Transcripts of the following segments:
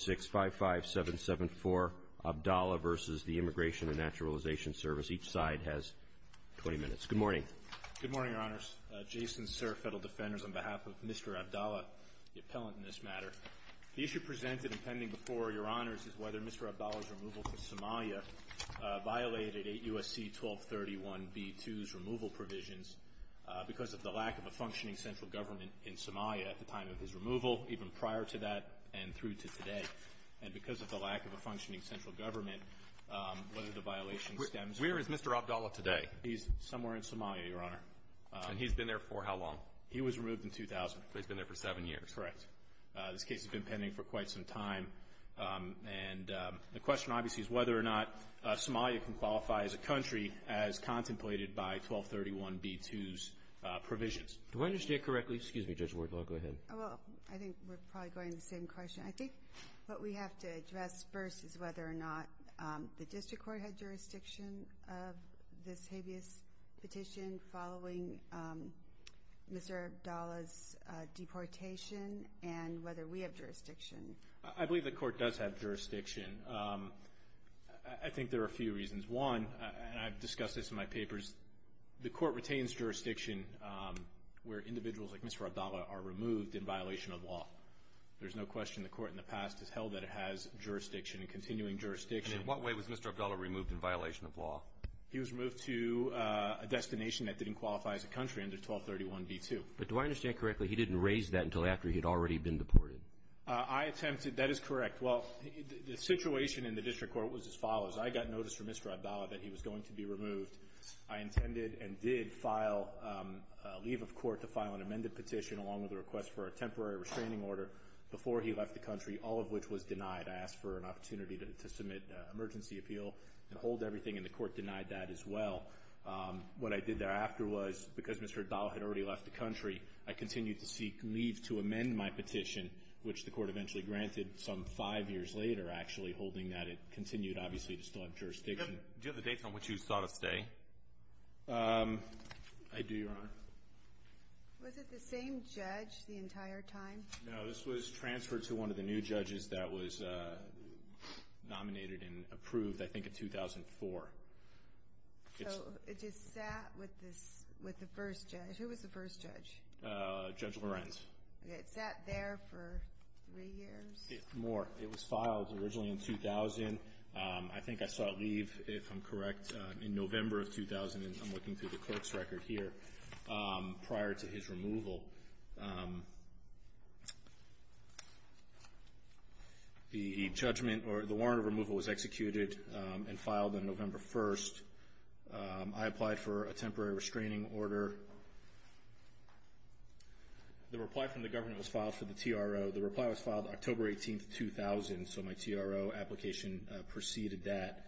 655-774-ABDALA v. the Immigration and Naturalization Service. Each side has 20 minutes. Good morning. Good morning, Your Honors. Jason Serf, Federal Defenders, on behalf of Mr. Abdala, the appellant in this matter. The issue presented and pending before Your Honors is whether Mr. Abdala's removal from Somalia violated 8 U.S.C. 1231b-2's removal provisions because of the lack of a functioning central government in Somalia at the time of his removal, even prior to that and through to today. And because of the lack of a functioning central government, whether the violation stems from Where is Mr. Abdala today? He's somewhere in Somalia, Your Honor. And he's been there for how long? He was removed in 2000. But he's been there for seven years. Correct. This case has been pending for quite some time. And the question obviously is whether or not Somalia can qualify as a country as contemplated by 1231b-2's provisions. Do I understand correctly? Excuse me, Judge Wardlaw. Go ahead. Well, I think we're probably going to the same question. I think what we have to address first is whether or not the district court had jurisdiction of this habeas petition following Mr. Abdala's deportation and whether we have jurisdiction. I believe the Court does have jurisdiction. I think there are a few reasons. One, and I've discussed this in my papers, the Court in violation of law. There's no question the Court in the past has held that it has jurisdiction and continuing jurisdiction. And in what way was Mr. Abdala removed in violation of law? He was removed to a destination that didn't qualify as a country under 1231b-2. But do I understand correctly he didn't raise that until after he had already been deported? I attempted. That is correct. Well, the situation in the district court was as follows. I got notice from Mr. Abdala that he was going to be removed. I intended and did file a leave of court to file an amended petition along with a request for a temporary restraining order before he left the country, all of which was denied. I asked for an opportunity to submit an emergency appeal and hold everything, and the Court denied that as well. What I did thereafter was, because Mr. Abdala had already left the country, I continued to seek leave to amend my petition, which the Court eventually granted some five years later, actually, holding that it continued, obviously, to still have jurisdiction. Do you have the date on which you sought a stay? I do, Your Honor. Was it the same judge the entire time? No. This was transferred to one of the new judges that was nominated and approved, I think, in 2004. So it just sat with the first judge? Who was the first judge? Judge Lorenz. Okay. It sat there for three years? More. It was filed originally in 2000. I think I am correct. In November of 2000, and I'm looking through the clerk's record here, prior to his removal, the warrant of removal was executed and filed on November 1st. I applied for a temporary restraining order. The reply from the government was filed for the TRO. The reply was filed October 18th, 2000, so my TRO application preceded that,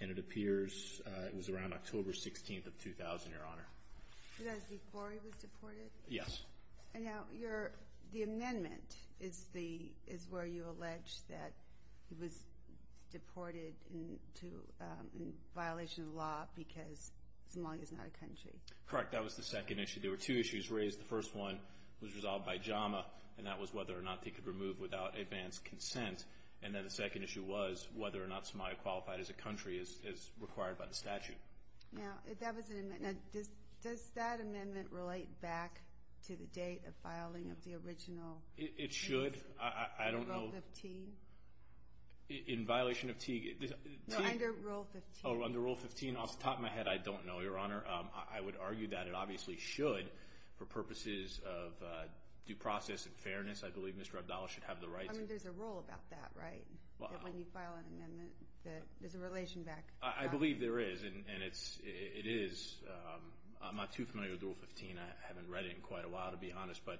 and it appears it was around October 16th of 2000, Your Honor. Did I see Borey was deported? Yes. And now the amendment is where you allege that he was deported in violation of the law because Somalia is not a country. Correct. That was the second issue. There were two issues raised. The first one was resolved by JAMA, and that was whether or not they could remove without advanced consent. And then the second issue was whether or not Somalia qualified as a country as required by the statute. Now, that was an amendment. Now, does that amendment relate back to the date of filing of the original case? It should. I don't know. Under Rule 15? In violation of T. No, under Rule 15. Oh, under Rule 15. Off the top of my head, I don't know, Your Honor. I would argue that it obviously should for purposes of due process and fairness. I believe Mr. Abdallah should have the rights. I mean, there's a rule about that, right? When you file an amendment, there's a relation back. I believe there is, and it is. I'm not too familiar with Rule 15. I haven't read it in quite a while, to be honest. But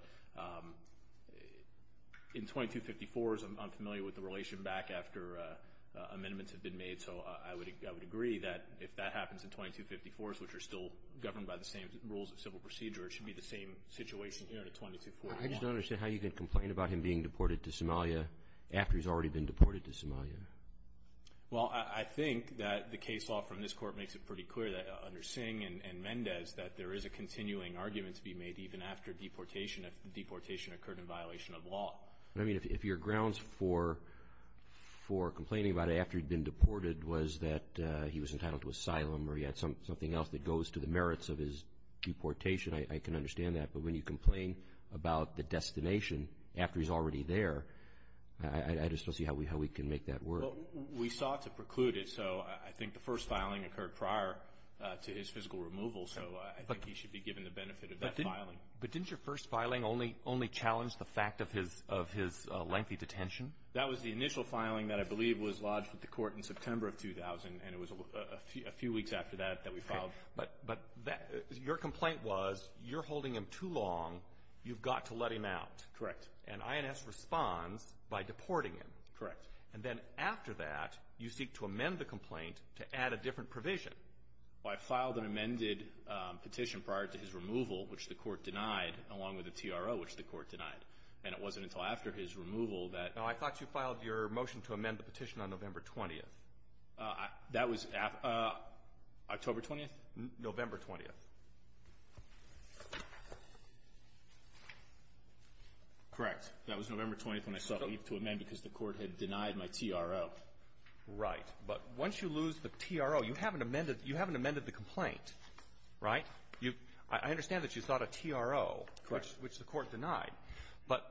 in 2254, I'm familiar with the relation back after amendments have been made, so I would agree that if that happens in 2254, which are still governed by the same rules of civil procedure, it should be the same situation here in 2241. I just don't understand how you can complain about him being deported to Somalia after he's already been deported to Somalia. Well, I think that the case law from this Court makes it pretty clear that under Singh and Mendez that there is a continuing argument to be made even after deportation if the deportation occurred in violation of law. I mean, if your grounds for complaining about it after he'd been deported was that he was entitled to asylum or he had something else that goes to the merits of his deportation, I can understand that. But when you complain about the destination after he's already there, I just don't see how we can make that work. Well, we sought to preclude it, so I think the first filing occurred prior to his physical removal, so I think he should be given the benefit of that filing. But didn't your first filing only challenge the fact of his lengthy detention? That was the initial filing that I believe was lodged with the Court in September of 2000, and it was a few weeks after that that we filed. But your complaint was you're holding him too long, you've got to let him out. Correct. And INS responds by deporting him. Correct. And then after that, you seek to amend the complaint to add a different provision. Well, I filed an amended petition prior to his removal, which the Court denied, along with a TRO, which the Court denied. And it wasn't until after his removal that the Court denied it. I thought you filed your motion to amend the petition on November 20th. That was October 20th? November 20th. Correct. That was November 20th when I sought leave to amend because the Court had denied my TRO. Right. But once you lose the TRO, you haven't amended the complaint, right? I understand that you sought a TRO, which the Court denied. Correct.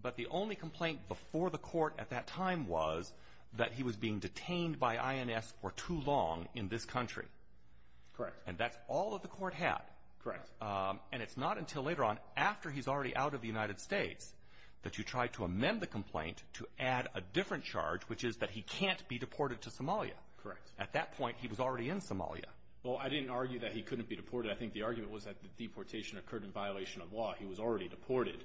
But the only complaint before the Court at that time was that he was being detained by INS for too long in this country. Correct. And that's all that the Court had. Correct. And it's not until later on, after he's already out of the United States, that you try to amend the complaint to add a different charge, which is that he can't be deported to Somalia. Correct. At that point, he was already in Somalia. Well, I didn't argue that he couldn't be deported. I think the argument was that the deportation occurred in violation of law. He was already deported,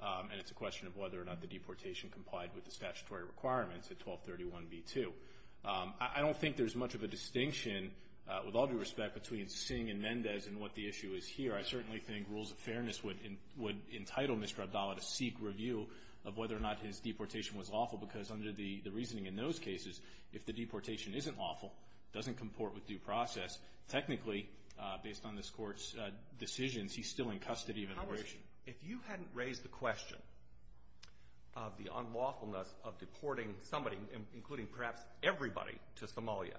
and it's a question of whether or not the deportation complied with the statutory requirements at 1231b2. I don't think there's much of a distinction, with all due respect, between Singh and Mendez and what the issue is here. I certainly think rules of fairness would entitle Mr. Abdallah to seek review of whether or not his deportation was lawful, because under the reasoning in those cases, if the deportation isn't lawful, doesn't comport with due process, technically, based on this Court's decisions, he's still in custody of immigration. If you hadn't raised the question of the unlawfulness of deporting somebody, including perhaps everybody, to Somalia,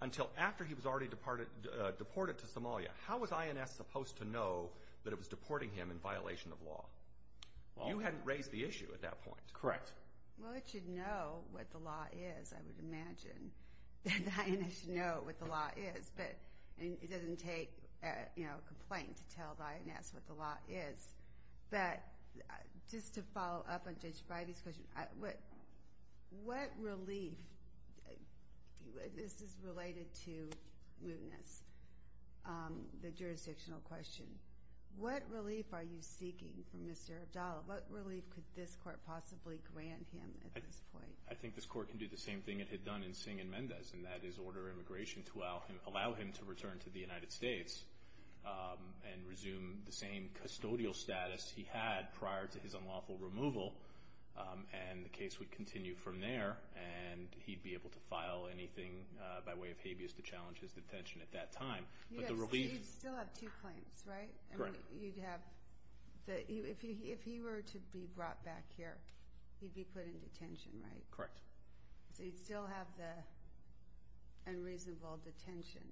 until after he was already deported to Somalia, how was INS supposed to know that it was deporting him in violation of law? You hadn't raised the issue at that point. Correct. And INS should know what the law is, but it doesn't take, you know, a complaint to tell INS what the law is. But just to follow up on Judge Bidey's question, what relief – this is related to Moodness, the jurisdictional question. What relief are you seeking from Mr. Abdallah? What relief could this Court possibly grant him at this point? I think this Court can do the same thing it had done in Singh and Mendez, and that is order immigration to allow him to return to the United States and resume the same custodial status he had prior to his unlawful removal. And the case would continue from there, and he'd be able to file anything by way of habeas to challenge his detention at that time. Yes, so you'd still have two claims, right? Correct. You'd have – if he were to be brought back here, he'd be put in detention, right? Correct. So you'd still have the unreasonable detention.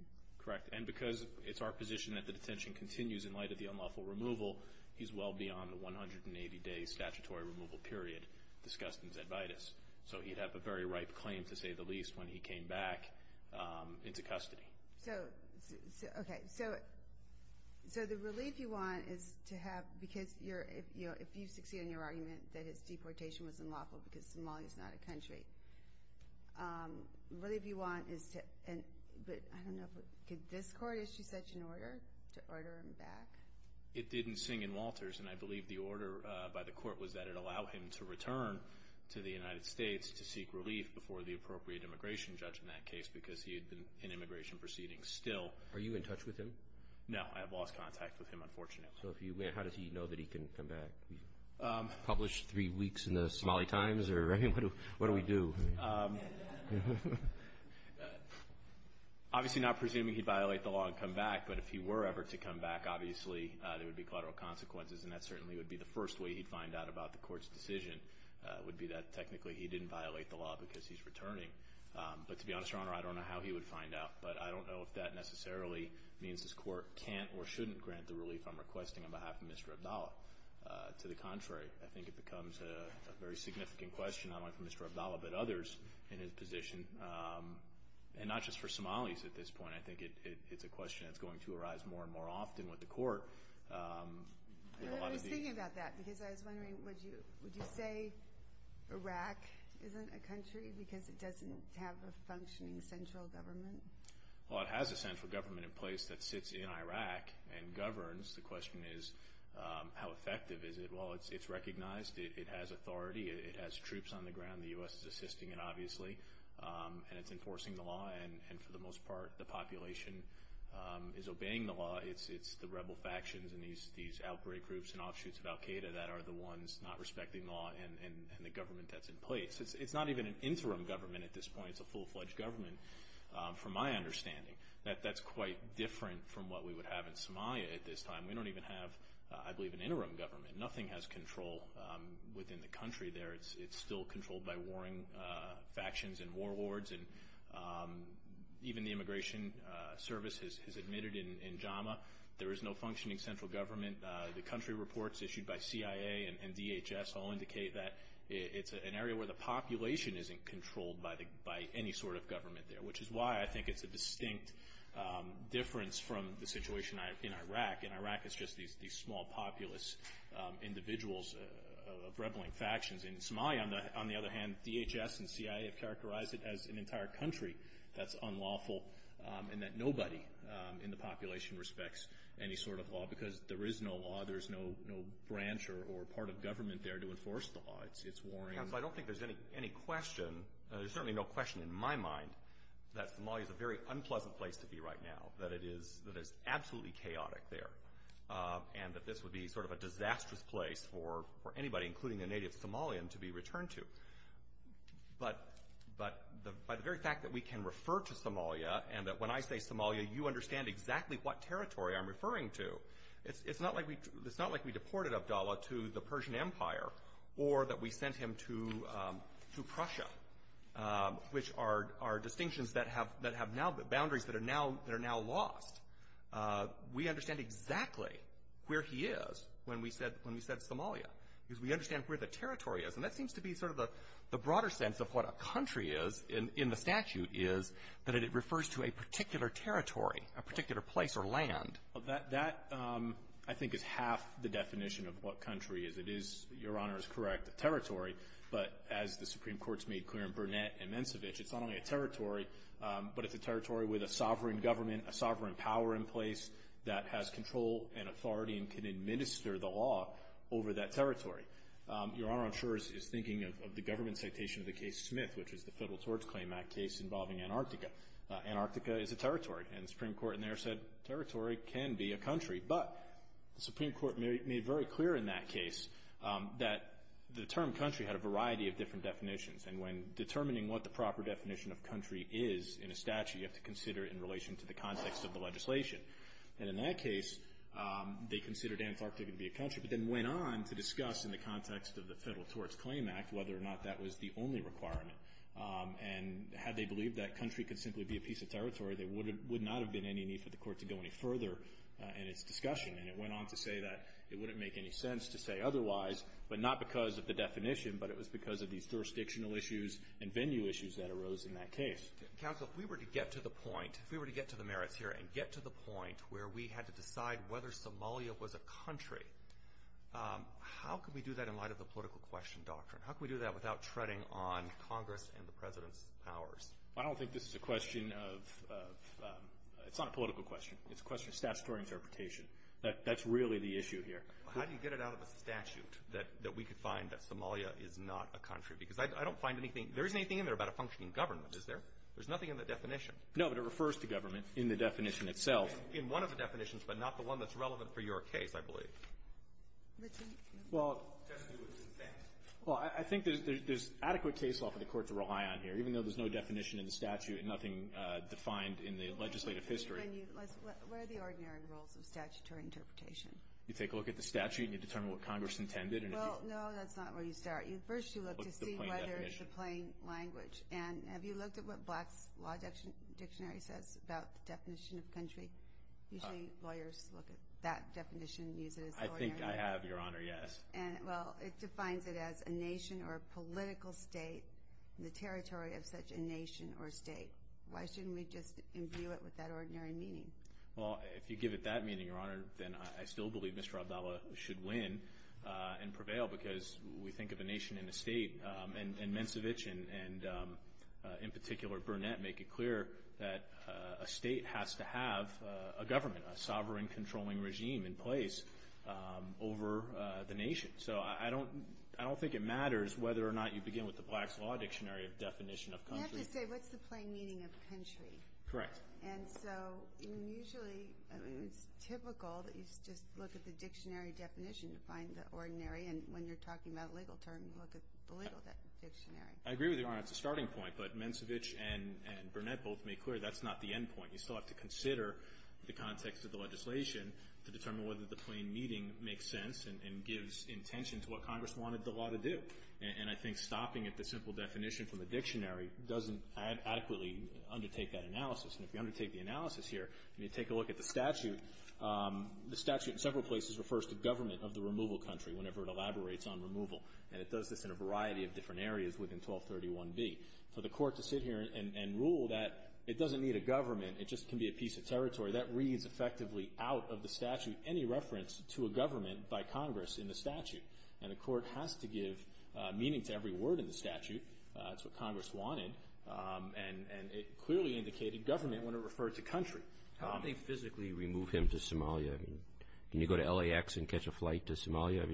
Correct. And because it's our position that the detention continues in light of the unlawful removal, he's well beyond the 180-day statutory removal period discussed in Zedvitis. So he'd have a very ripe claim, to say the least, when he came back into custody. So, okay, so the relief you want is to have – because if you succeed in your claim, that's not a country. Relief you want is to – but I don't know if – could this court issue such an order to order him back? It didn't sing in Walters, and I believe the order by the court was that it allowed him to return to the United States to seek relief before the appropriate immigration judge in that case because he had been in immigration proceedings still. Are you in touch with him? No, I have lost contact with him, unfortunately. So if you – how does he know that he can come back? Published three weeks in the Somali Times or – I mean, what do we do? Obviously not presuming he'd violate the law and come back, but if he were ever to come back, obviously there would be collateral consequences, and that certainly would be the first way he'd find out about the court's decision would be that technically he didn't violate the law because he's returning. But to be honest, Your Honor, I don't know how he would find out, but I don't know if that necessarily means this court can't or shouldn't grant the relief I'm to the contrary. I think it becomes a very significant question not only for Mr. Abdallah but others in his position, and not just for Somalis at this point. I think it's a question that's going to arise more and more often with the court. I was thinking about that because I was wondering, would you say Iraq isn't a country because it doesn't have a functioning central government? Well, it has a central government in place that sits in Iraq and governs. The question is, how effective is it? Well, it's recognized. It has authority. It has troops on the ground. The U.S. is assisting it, obviously, and it's enforcing the law, and for the most part, the population is obeying the law. It's the rebel factions and these outbreak groups and offshoots of al-Qaeda that are the ones not respecting the law and the government that's in place. It's not even an interim government at this point. It's a full-fledged government from my understanding. That's quite different from what we would have in Somalia at this time. We don't even have, I believe, an interim government. Nothing has control within the country there. It's still controlled by warring factions and warlords, and even the Immigration Service has admitted in JAMA there is no functioning central government. The country reports issued by CIA and DHS all indicate that it's an area where the population isn't controlled by any sort of government there, which is why I think it's a distinct difference from the situation in Iraq. In Iraq, it's just these small populous individuals of rebelling factions. In Somalia, on the other hand, DHS and CIA have characterized it as an entire country that's unlawful and that nobody in the population respects any sort of law because there is no law. There's no branch or part of government there to enforce the law. It's warring. I don't think there's any question. There's certainly no question in my mind that Somalia is a very unpleasant place to that is absolutely chaotic there and that this would be sort of a disastrous place for anybody, including a native Somalian, to be returned to. But by the very fact that we can refer to Somalia and that when I say Somalia, you understand exactly what territory I'm referring to, it's not like we deported Abdullah to the Persian Empire or that we sent him to Prussia, which are now boundaries that are now lost. We understand exactly where he is when we said Somalia because we understand where the territory is. And that seems to be sort of the broader sense of what a country is in the statute is that it refers to a particular territory, a particular place or land. Well, that I think is half the definition of what country is. It is, Your Honor is correct, a territory. But as the Supreme Court's made clear in Burnett and Mensovich, it's not only a territory, but it's a territory with a sovereign government, a sovereign power in place that has control and authority and can administer the law over that territory. Your Honor, I'm sure, is thinking of the government citation of the case Smith, which is the Federal Tort Claim Act case involving Antarctica. Antarctica is a territory, and the Supreme Court in there said territory can be a country. But the Supreme Court made very clear in that case that the term country had a variety of different definitions. And when determining what the proper definition of country is in a statute, you have to consider it in relation to the context of the legislation. And in that case, they considered Antarctica to be a country, but then went on to discuss in the context of the Federal Tort Claim Act whether or not that was the only requirement. And had they believed that country could simply be a piece of territory, there would not have been any need for the Court to go any further in its discussion. And it went on to say that it wouldn't make any sense to say otherwise, but not because of the definition, but it was because of these jurisdictional issues and venue issues that arose in that case. Counsel, if we were to get to the point, if we were to get to the merits here and get to the point where we had to decide whether Somalia was a country, how could we do that in light of the political question doctrine? How could we do that without treading on Congress and the President's powers? I don't think this is a question of – it's not a political question. It's a question of statutory interpretation. That's really the issue here. How do you get it out of the statute that we could find that Somalia is not a country? Because I don't find anything – there isn't anything in there about a functioning government, is there? There's nothing in the definition. No, but it refers to government in the definition itself. In one of the definitions, but not the one that's relevant for your case, I believe. Well, I think there's adequate case law for the Court to rely on here. Even though there's no definition in the statute and nothing defined in the legislative history. Where are the ordinary rules of statutory interpretation? You take a look at the statute and you determine what Congress intended. Well, no, that's not where you start. First you look to see whether it's a plain language. And have you looked at what Black's Law Dictionary says about the definition of country? Usually lawyers look at that definition and use it as the ordinary. I think I have, Your Honor, yes. Well, it defines it as a nation or a political state, the territory of such a nation or state. Why shouldn't we just imbue it with that ordinary meaning? Well, if you give it that meaning, Your Honor, then I still believe Mr. Abdallah should win and prevail because we think of a nation and a state. And Mensovich and, in particular, Burnett make it clear that a state has to have a government, a sovereign controlling regime in place over the nation. So I don't think it matters whether or not you begin with the Black's Law Dictionary definition of country. You have to say what's the plain meaning of country. Correct. And so usually it's typical that you just look at the dictionary definition to find the ordinary. And when you're talking about a legal term, you look at the legal dictionary. I agree with you, Your Honor. It's a starting point. But Mensovich and Burnett both make clear that's not the end point. You still have to consider the context of the legislation to determine whether the plain meaning makes sense and gives intention to what Congress wanted the law to do. And I think stopping at the simple definition from the dictionary doesn't adequately undertake that analysis. And if you undertake the analysis here and you take a look at the statute, the statute in several places refers to government of the removal country whenever it elaborates on removal. And it does this in a variety of different areas within 1231B. For the court to sit here and rule that it doesn't need a government, it just can be a piece of territory, that reads effectively out of the statute any reference to a government by Congress in the statute. And the court has to give meaning to every word in the statute. That's what Congress wanted. And it clearly indicated government when it referred to country. How do they physically remove him to Somalia? Can you go to LAX and catch a flight to Somalia?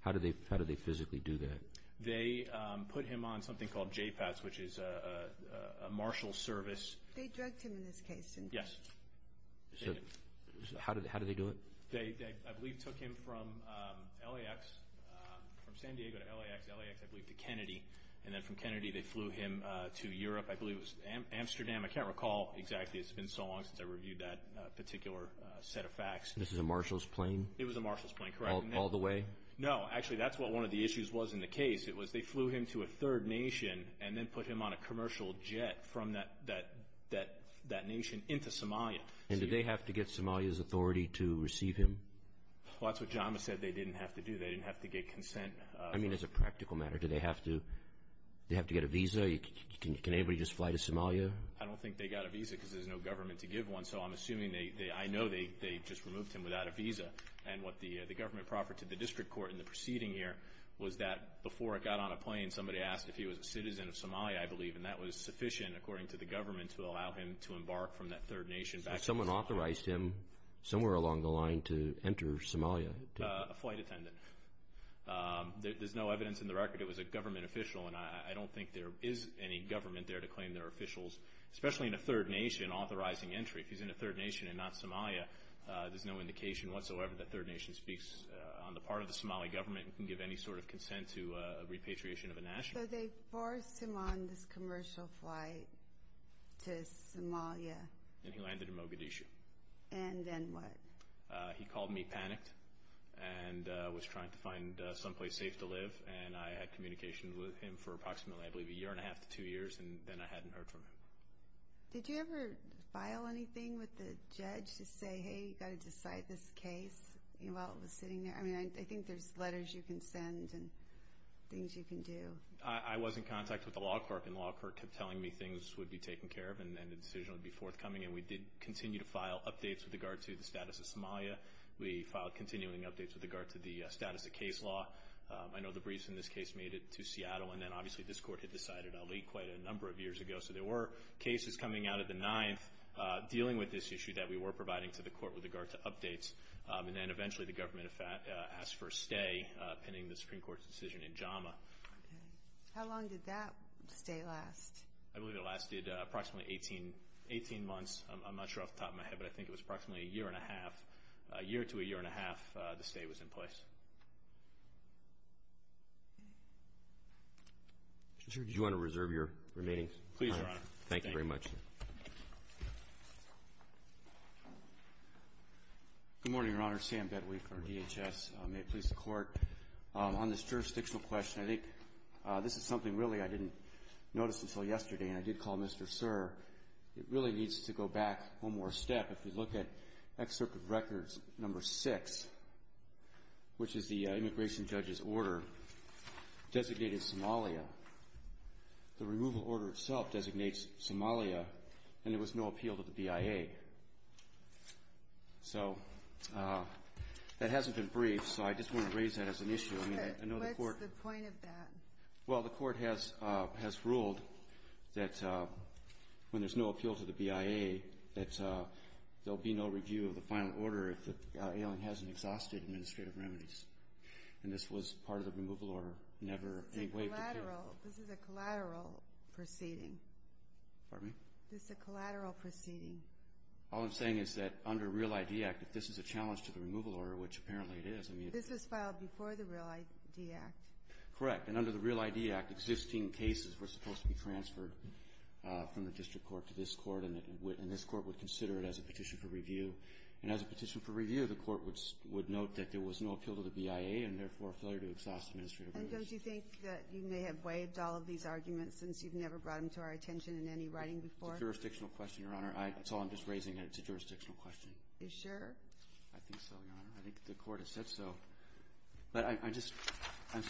How do they physically do that? They put him on something called JPATS, which is a marshal service. They drugged him in this case, didn't they? Yes. So how do they do it? They, I believe, took him from LAX, from San Diego to LAX, LAX, I believe, to Kennedy. And then from Kennedy they flew him to Europe. I believe it was Amsterdam. I can't recall exactly. It's been so long since I reviewed that particular set of facts. This is a marshal's plane? It was a marshal's plane, correct. All the way? No, actually, that's what one of the issues was in the case. It was they flew him to a third nation and then put him on a commercial jet from that nation into Somalia. And did they have to get Somalia's authority to receive him? Well, that's what JAMA said they didn't have to do. They didn't have to get consent. I mean, as a practical matter, do they have to get a visa? Can anybody just fly to Somalia? I don't think they got a visa because there's no government to give one. So I'm assuming they, I know they just removed him without a visa. And what the government proffered to the district court in the proceeding here was that before it got on a plane, somebody asked if he was a citizen of Somalia, I believe, and that was sufficient according to the government to allow him to embark from that third nation back to Somalia. Someone authorized him somewhere along the line to enter Somalia? A flight attendant. There's no evidence in the record it was a government official, and I don't think there is any government there to claim there are officials, especially in a third nation, authorizing entry. If he's in a third nation and not Somalia, there's no indication whatsoever that third nation speaks on the part of the Somali government and can give any sort of consent to a repatriation of a national. So they forced him on this commercial flight to Somalia. And he landed in Mogadishu. And then what? He called me panicked and was trying to find someplace safe to live. And I had communication with him for approximately, I believe, a year and a half to two years, and then I hadn't heard from him. Did you ever file anything with the judge to say, hey, you've got to decide this case while it was sitting there? I mean, I think there's letters you can send and things you can do. I was in contact with the law court, and the law court kept telling me things would be taken care of and the decision would be forthcoming. And we did continue to file updates with regard to the status of Somalia. We filed continuing updates with regard to the status of case law. I know the briefs in this case made it to Seattle, and then obviously this court had decided a leak quite a number of years ago. So there were cases coming out of the ninth dealing with this issue that we were providing to the court with regard to updates. And then eventually the government asked for a stay, pending the Supreme Court's decision in JAMA. How long did that stay last? I believe it lasted approximately 18 months. I'm not sure off the top of my head, but I think it was approximately a year and a half. A year to a year and a half, the stay was in place. Mr. Chief, did you want to reserve your remaining time? Please, Your Honor. Thank you very much. Good morning, Your Honor. Sam Bedwick for DHS. May it please the Court, on this jurisdictional question, I think this is something really I didn't notice until yesterday, and I did call Mr. Sir. It really needs to go back one more step. If you look at Excerpt of Records No. 6, which is the immigration judge's order, designated Somalia. The removal order itself designates Somalia, and there was no appeal to the BIA. So that hasn't been briefed, so I just want to raise that as an issue. What's the point of that? Well, the Court has ruled that when there's no appeal to the BIA, that there will be no review of the final order if the alien hasn't exhausted administrative remedies. And this was part of the removal order. This is a collateral proceeding. Pardon me? This is a collateral proceeding. All I'm saying is that under Real ID Act, if this is a challenge to the removal order, which apparently it is. This was filed before the Real ID Act. Correct. And under the Real ID Act, existing cases were supposed to be transferred from the district court to this court, and this court would consider it as a petition for review. And as a petition for review, the court would note that there was no appeal to the BIA and therefore a failure to exhaust administrative remedies. And don't you think that you may have waived all of these arguments since you've never brought them to our attention in any writing before? It's a jurisdictional question, Your Honor. That's all I'm just raising, and it's a jurisdictional question. Are you sure? I think so, Your Honor. I think the court has said so. But I'm just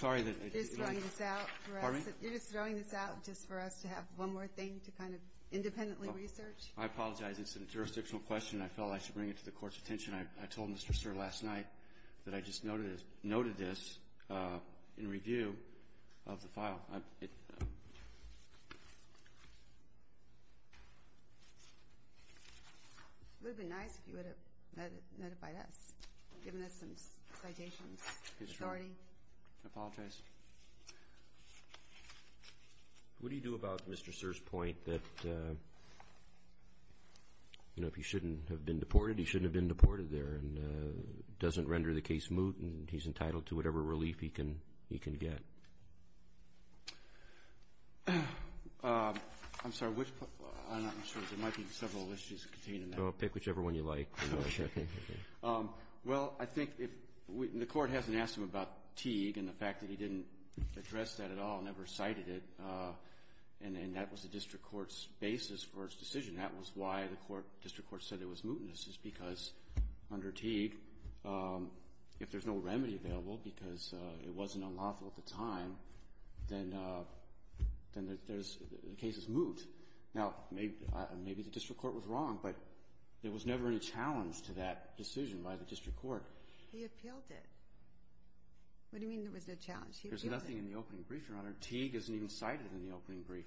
sorry that it is. You're just throwing this out for us. Pardon me? You're just throwing this out just for us to have one more thing to kind of independently research? I apologize. It's a jurisdictional question. I felt I should bring it to the court's attention. I told Mr. Sir last night that I just noted this in review of the file. It would have been nice if you would have notified us, given us some citations, authority. I apologize. What do you do about Mr. Sir's point that, you know, if he shouldn't have been deported, he shouldn't have been deported there and doesn't render the case moot and he's entitled to whatever relief he can get? I'm sorry. There might be several issues contained in that. Pick whichever one you like. Well, I think the court hasn't asked him about Teague and the fact that he didn't address that at all, never cited it, and that was the district court's basis for its decision. That was why the district court said it was mootness is because, under Teague, if there's no remedy available because it wasn't unlawful at the time, then the case is moot. Now, maybe the district court was wrong, but there was never any challenge to that decision by the district court. He appealed it. What do you mean there was no challenge? He appealed it. There's nothing in the opening brief, Your Honor. Teague isn't even cited in the opening brief.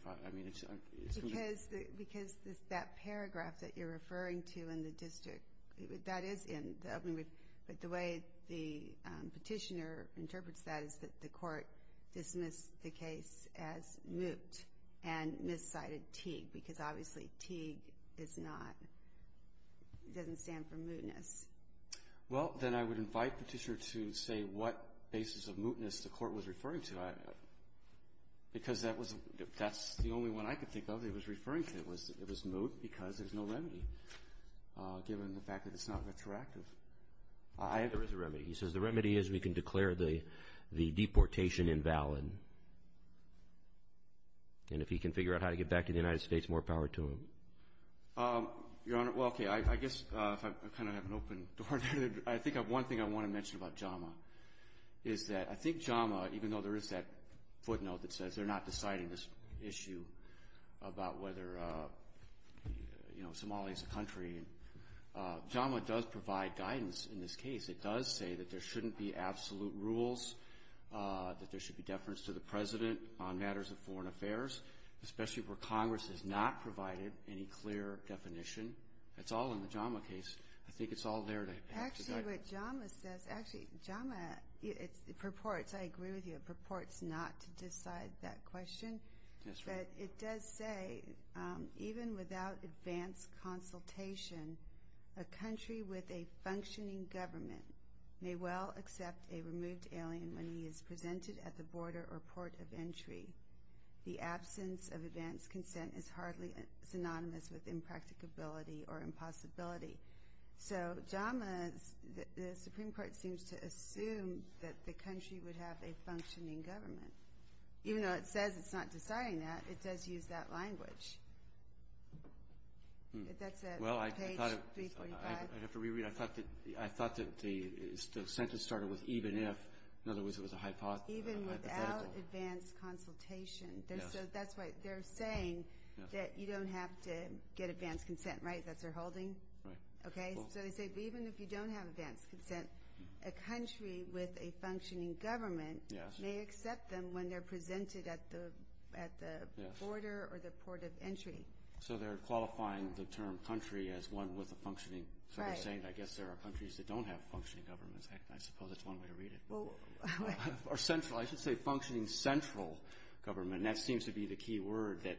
Because that paragraph that you're referring to in the district, that is in the opening brief, but the way the petitioner interprets that is that the court dismissed the case as moot and miscited Teague because, obviously, Teague doesn't stand for mootness. Well, then I would invite the petitioner to say what basis of mootness the court was referring to because that's the only one I could think of that was referring to. It was moot because there's no remedy given the fact that it's not retroactive. There is a remedy. He says the remedy is we can declare the deportation invalid, and if he can figure out how to get back to the United States, more power to him. Your Honor, well, okay, I guess I kind of have an open door. I think one thing I want to mention about JAMA is that I think JAMA, even though there is that footnote that says they're not deciding this issue about whether Somalia is a country, JAMA does provide guidance in this case. It does say that there shouldn't be absolute rules, that there should be deference to the president on matters of foreign affairs, especially where Congress has not provided any clear definition. It's all in the JAMA case. I think it's all there. Actually, what JAMA says, actually, it purports, I agree with you, it purports not to decide that question, but it does say even without advanced consultation, a country with a functioning government may well accept a removed alien when he is presented at the border or port of entry. The absence of advanced consent is hardly synonymous with impracticability or impossibility. So JAMA, the Supreme Court seems to assume that the country would have a functioning government. Even though it says it's not deciding that, it does use that language. That's page 345. I thought that the sentence started with even if. In other words, it was a hypothetical. Even without advanced consultation. That's why they're saying that you don't have to get advanced consent, right? That's their holding? Right. Okay. So they say even if you don't have advanced consent, a country with a functioning government may accept them when they're presented at the border or the port of entry. So they're qualifying the term country as one with a functioning. Right. So they're saying, I guess, there are countries that don't have functioning governments. I suppose that's one way to read it. Or central. I should say functioning central government, and that seems to be the key word that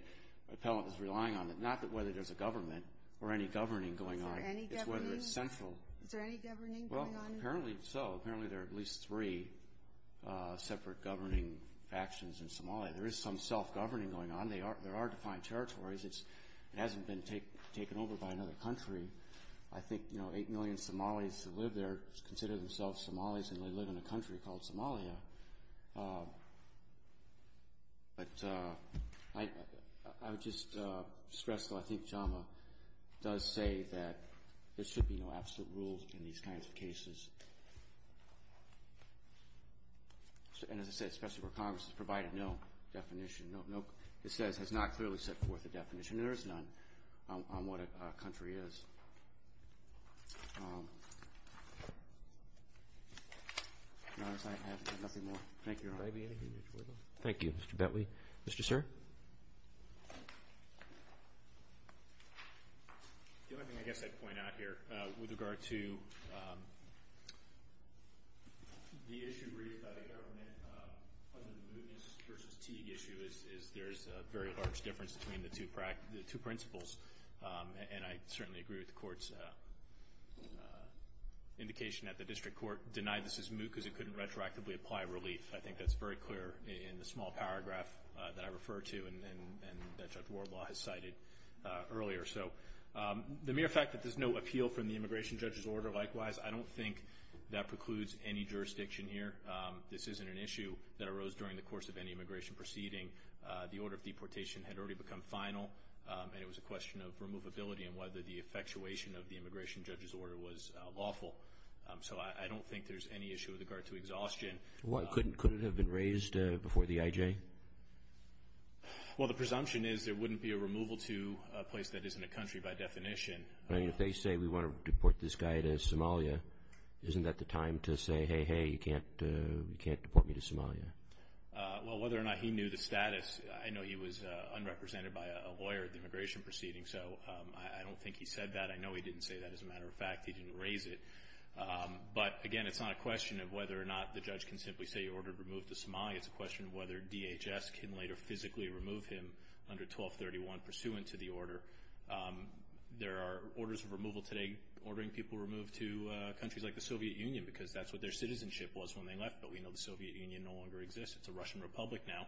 Appellant is relying on, not that whether there's a government or any governing going on. Is there any governing? It's whether it's central. Is there any governing going on? Well, apparently so. Apparently there are at least three separate governing factions in Somalia. There is some self-governing going on. There are defined territories. It hasn't been taken over by another country. I think, you know, eight million Somalis who live there consider themselves Somalis, and they live in a country called Somalia. But I would just stress, though, I think JAMA does say that there should be no absolute rules in these kinds of cases. And as I said, especially where Congress has provided no definition, it says has not clearly set forth a definition, and there is none on what a country is. Your Honor, I have nothing more. Thank you, Your Honor. Thank you, Mr. Bentley. Mr. Sir? The only thing I guess I'd point out here with regard to the issue raised by the government under the Mootness v. Teague issue is there's a very large difference between the two principles, and I certainly agree with the court's indication at the district court. Deny this is Moot because it couldn't retroactively apply relief. I think that's very clear in the small paragraph that I refer to and that Judge Wardlaw has cited earlier. So the mere fact that there's no appeal from the immigration judge's order, likewise, I don't think that precludes any jurisdiction here. This isn't an issue that arose during the course of any immigration proceeding. The order of deportation had already become final, and it was a question of removability and whether the effectuation of the immigration judge's order was lawful. So I don't think there's any issue with regard to exhaustion. Couldn't it have been raised before the IJ? Well, the presumption is there wouldn't be a removal to a place that isn't a country by definition. If they say we want to deport this guy to Somalia, isn't that the time to say, hey, hey, you can't deport me to Somalia? Well, whether or not he knew the status, I know he was unrepresented by a lawyer at the immigration proceeding, so I don't think he said that. I know he didn't say that, as a matter of fact. He didn't raise it. But, again, it's not a question of whether or not the judge can simply say you're ordered removed to Somalia. It's a question of whether DHS can later physically remove him under 1231 pursuant to the order. There are orders of removal today ordering people removed to countries like the Soviet Union because that's what their citizenship was when they left, but we know the Soviet Union no longer exists. It's a Russian republic now,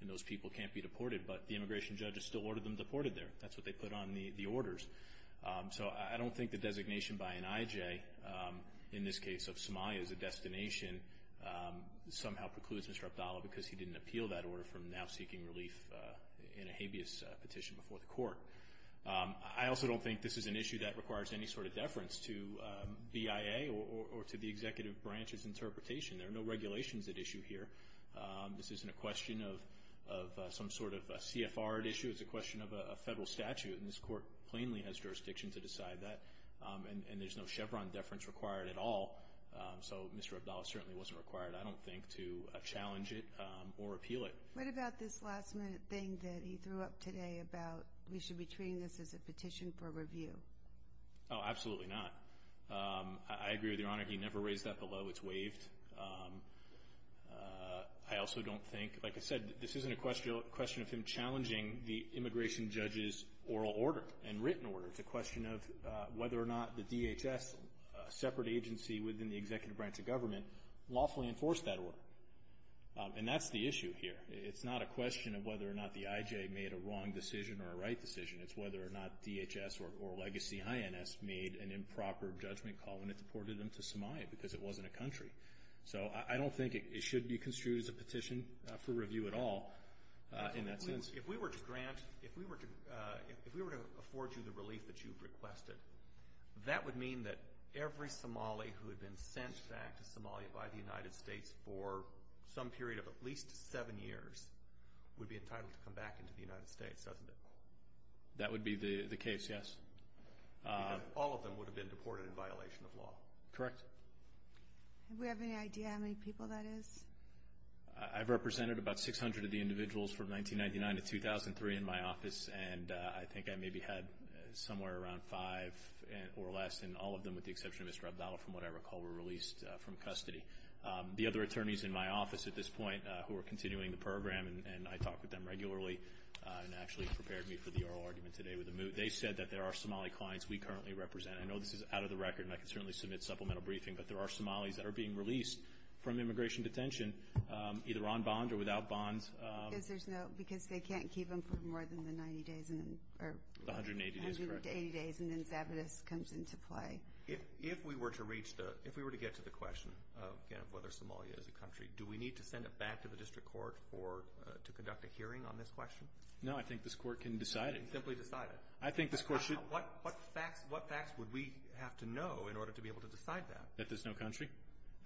and those people can't be deported, but the immigration judges still ordered them deported there. That's what they put on the orders. So I don't think the designation by an IJ, in this case of Somalia as a destination, somehow precludes Mr. Abdallah because he didn't appeal that order from now seeking relief in a habeas petition before the court. I also don't think this is an issue that requires any sort of deference to BIA or to the executive branch's interpretation. There are no regulations at issue here. This isn't a question of some sort of CFR at issue. It's a question of a federal statute, and this court plainly has jurisdiction to decide that, and there's no Chevron deference required at all. So Mr. Abdallah certainly wasn't required, I don't think, to challenge it or appeal it. What about this last-minute thing that he threw up today about we should be treating this as a petition for review? Oh, absolutely not. I agree with Your Honor. He never raised that below. It's waived. I also don't think, like I said, this isn't a question of him challenging the immigration judge's oral order and written order. It's a question of whether or not the DHS, a separate agency within the executive branch of government, lawfully enforced that order. And that's the issue here. It's not a question of whether or not the IJ made a wrong decision or a right decision. It's whether or not DHS or legacy INS made an improper judgment call when it deported them to Somalia because it wasn't a country. So I don't think it should be construed as a petition for review at all in that sense. If we were to grant, if we were to afford you the relief that you've requested, that would mean that every Somali who had been sent back to Somalia by the United States for some period of at least seven years would be entitled to come back into the United States, doesn't it? That would be the case, yes. Because all of them would have been deported in violation of law. Correct. Do we have any idea how many people that is? I've represented about 600 of the individuals from 1999 to 2003 in my office, and I think I maybe had somewhere around five or less, and all of them with the exception of Mr. Abdallah, from what I recall, were released from custody. The other attorneys in my office at this point who are continuing the program, and I talk with them regularly and actually prepared me for the oral argument today with the MOOT, they said that there are Somali clients we currently represent. I know this is out of the record, and I can certainly submit supplemental briefing, but there are Somalis that are being released from immigration detention either on bond or without bonds. Because they can't keep them for more than the 90 days. The 180 days, correct. The 180 days, and then Zabitis comes into play. If we were to get to the question of whether Somalia is a country, do we need to send it back to the district court to conduct a hearing on this question? No, I think this court can decide it. It can simply decide it. I think this court should. What facts would we have to know in order to be able to decide that? That there's no country.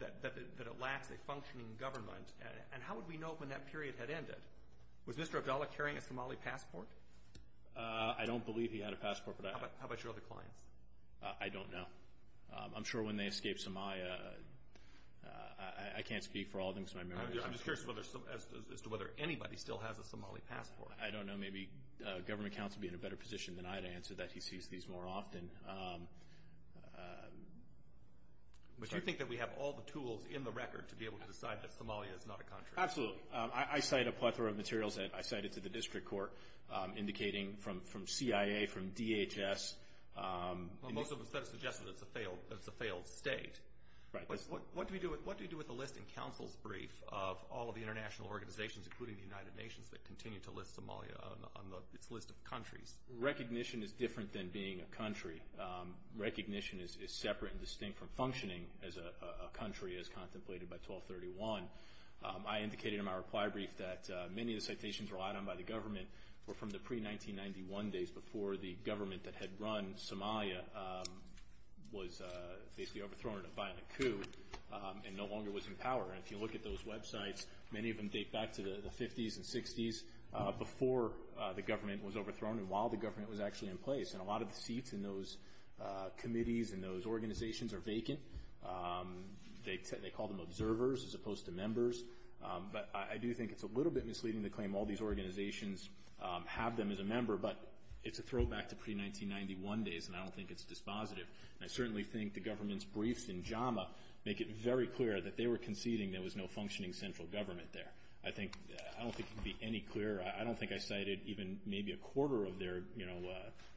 That it lacks a functioning government, and how would we know when that period had ended? Was Mr. Abdullah carrying a Somali passport? I don't believe he had a passport. How about your other clients? I don't know. I'm sure when they escaped Somalia, I can't speak for all of them because my memory is not good. I'm just curious as to whether anybody still has a Somali passport. I don't know. Maybe government counsel would be in a better position than I to answer that. He sees these more often. Do you think that we have all the tools in the record to be able to decide that Somalia is not a country? Absolutely. I cite a plethora of materials that I cited to the district court, indicating from CIA, from DHS. Most of it suggests that it's a failed state. What do you do with a list in counsel's brief of all of the international organizations, including the United Nations, that continue to list Somalia on its list of countries? Recognition is different than being a country. Recognition is separate and distinct from functioning as a country as contemplated by 1231. I indicated in my reply brief that many of the citations relied on by the government were from the pre-1991 days, before the government that had run Somalia was basically overthrown in a violent coup and no longer was in power. And if you look at those websites, many of them date back to the 50s and 60s, before the government was overthrown and while the government was actually in place. And a lot of the seats in those committees and those organizations are vacant. They call them observers as opposed to members. But I do think it's a little bit misleading to claim all these organizations have them as a member, but it's a throwback to pre-1991 days, and I don't think it's dispositive. And I certainly think the government's briefs in JAMA make it very clear that they were conceding there was no functioning central government there. I don't think it can be any clearer. I don't think I cited even maybe a quarter of their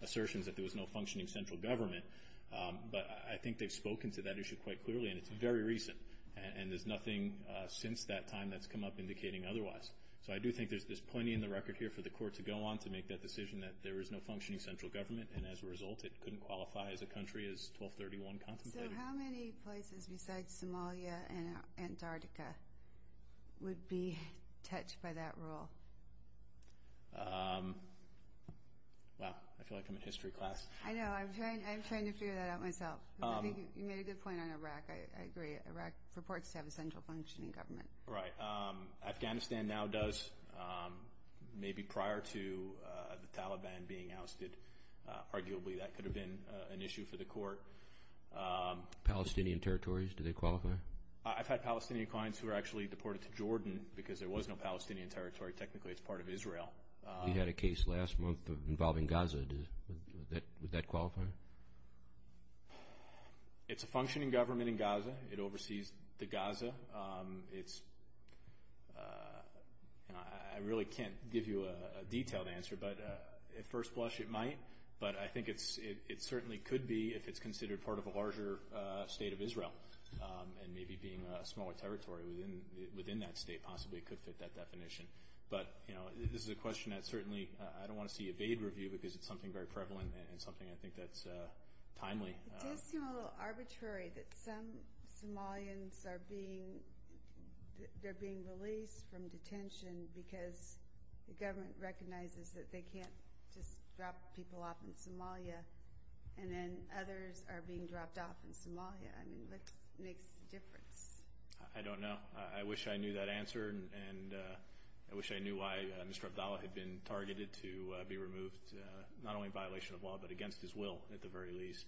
assertions that there was no functioning central government, but I think they've spoken to that issue quite clearly, and it's very recent, and there's nothing since that time that's come up indicating otherwise. So I do think there's plenty in the record here for the court to go on to make that decision that there was no functioning central government, and as a result it couldn't qualify as a country as 1231 contemplated. So how many places besides Somalia and Antarctica would be touched by that rule? Wow. I feel like I'm in history class. I know. I'm trying to figure that out myself. I think you made a good point on Iraq. I agree. Iraq purports to have a central functioning government. Right. Afghanistan now does. Maybe prior to the Taliban being ousted, arguably that could have been an issue for the court. Palestinian territories, do they qualify? I've had Palestinian clients who were actually deported to Jordan because there was no Palestinian territory. Technically, it's part of Israel. We had a case last month involving Gaza. Would that qualify? It's a functioning government in Gaza. It oversees the Gaza. I really can't give you a detailed answer, but at first blush it might, but I think it certainly could be if it's considered part of a larger state of Israel and maybe being a smaller territory within that state possibly could fit that definition. But this is a question that certainly I don't want to see evaded review because it's something very prevalent and something I think that's timely. It does seem a little arbitrary that some Somalians are being released from detention because the government recognizes that they can't just drop people off in Somalia and then others are being dropped off in Somalia. I mean, what makes the difference? I don't know. I wish I knew that answer, and I wish I knew why Mr. Abdallah had been targeted to be removed not only in violation of law but against his will at the very least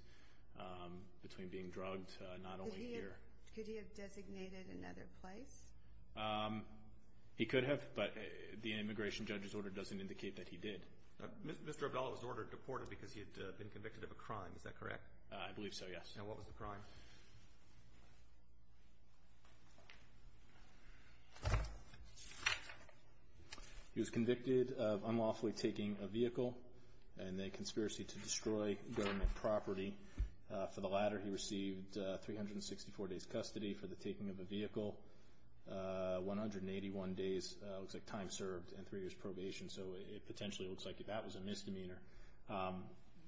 between being drugged not only here. Could he have designated another place? He could have, but the immigration judge's order doesn't indicate that he did. Mr. Abdallah was ordered deported because he had been convicted of a crime. Is that correct? I believe so, yes. And what was the crime? He was convicted of unlawfully taking a vehicle and a conspiracy to destroy government property. For the latter, he received 364 days custody for the taking of a vehicle, 181 days time served, and three years probation. So it potentially looks like that was a misdemeanor.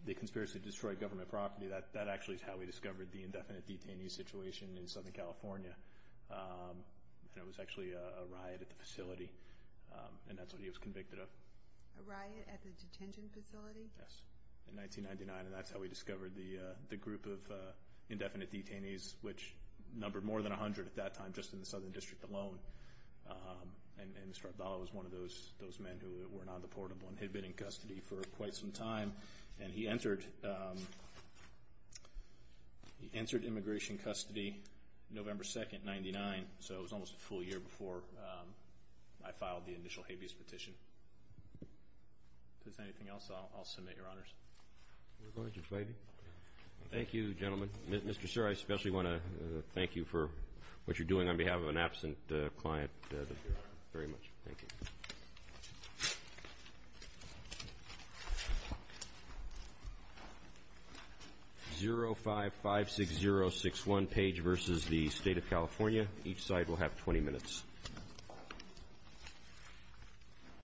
The conspiracy to destroy government property, that actually is how we discovered the indefinite detainee situation in Southern California. And it was actually a riot at the facility, and that's what he was convicted of. A riot at the detention facility? Yes, in 1999. And that's how we discovered the group of indefinite detainees, which numbered more than 100 at that time just in the Southern District alone. And Mr. Abdallah was one of those men who were not deportable and had been in custody for quite some time. And he entered immigration custody November 2, 1999, so it was almost a full year before I filed the initial habeas petition. If there's anything else, I'll submit, Your Honors. We're going to the fighting. Thank you, gentlemen. Mr. Sir, I especially want to thank you for what you're doing on behalf of an absent client. Very much. Thank you. 0556061, page versus the State of California. Each side will have 20 minutes.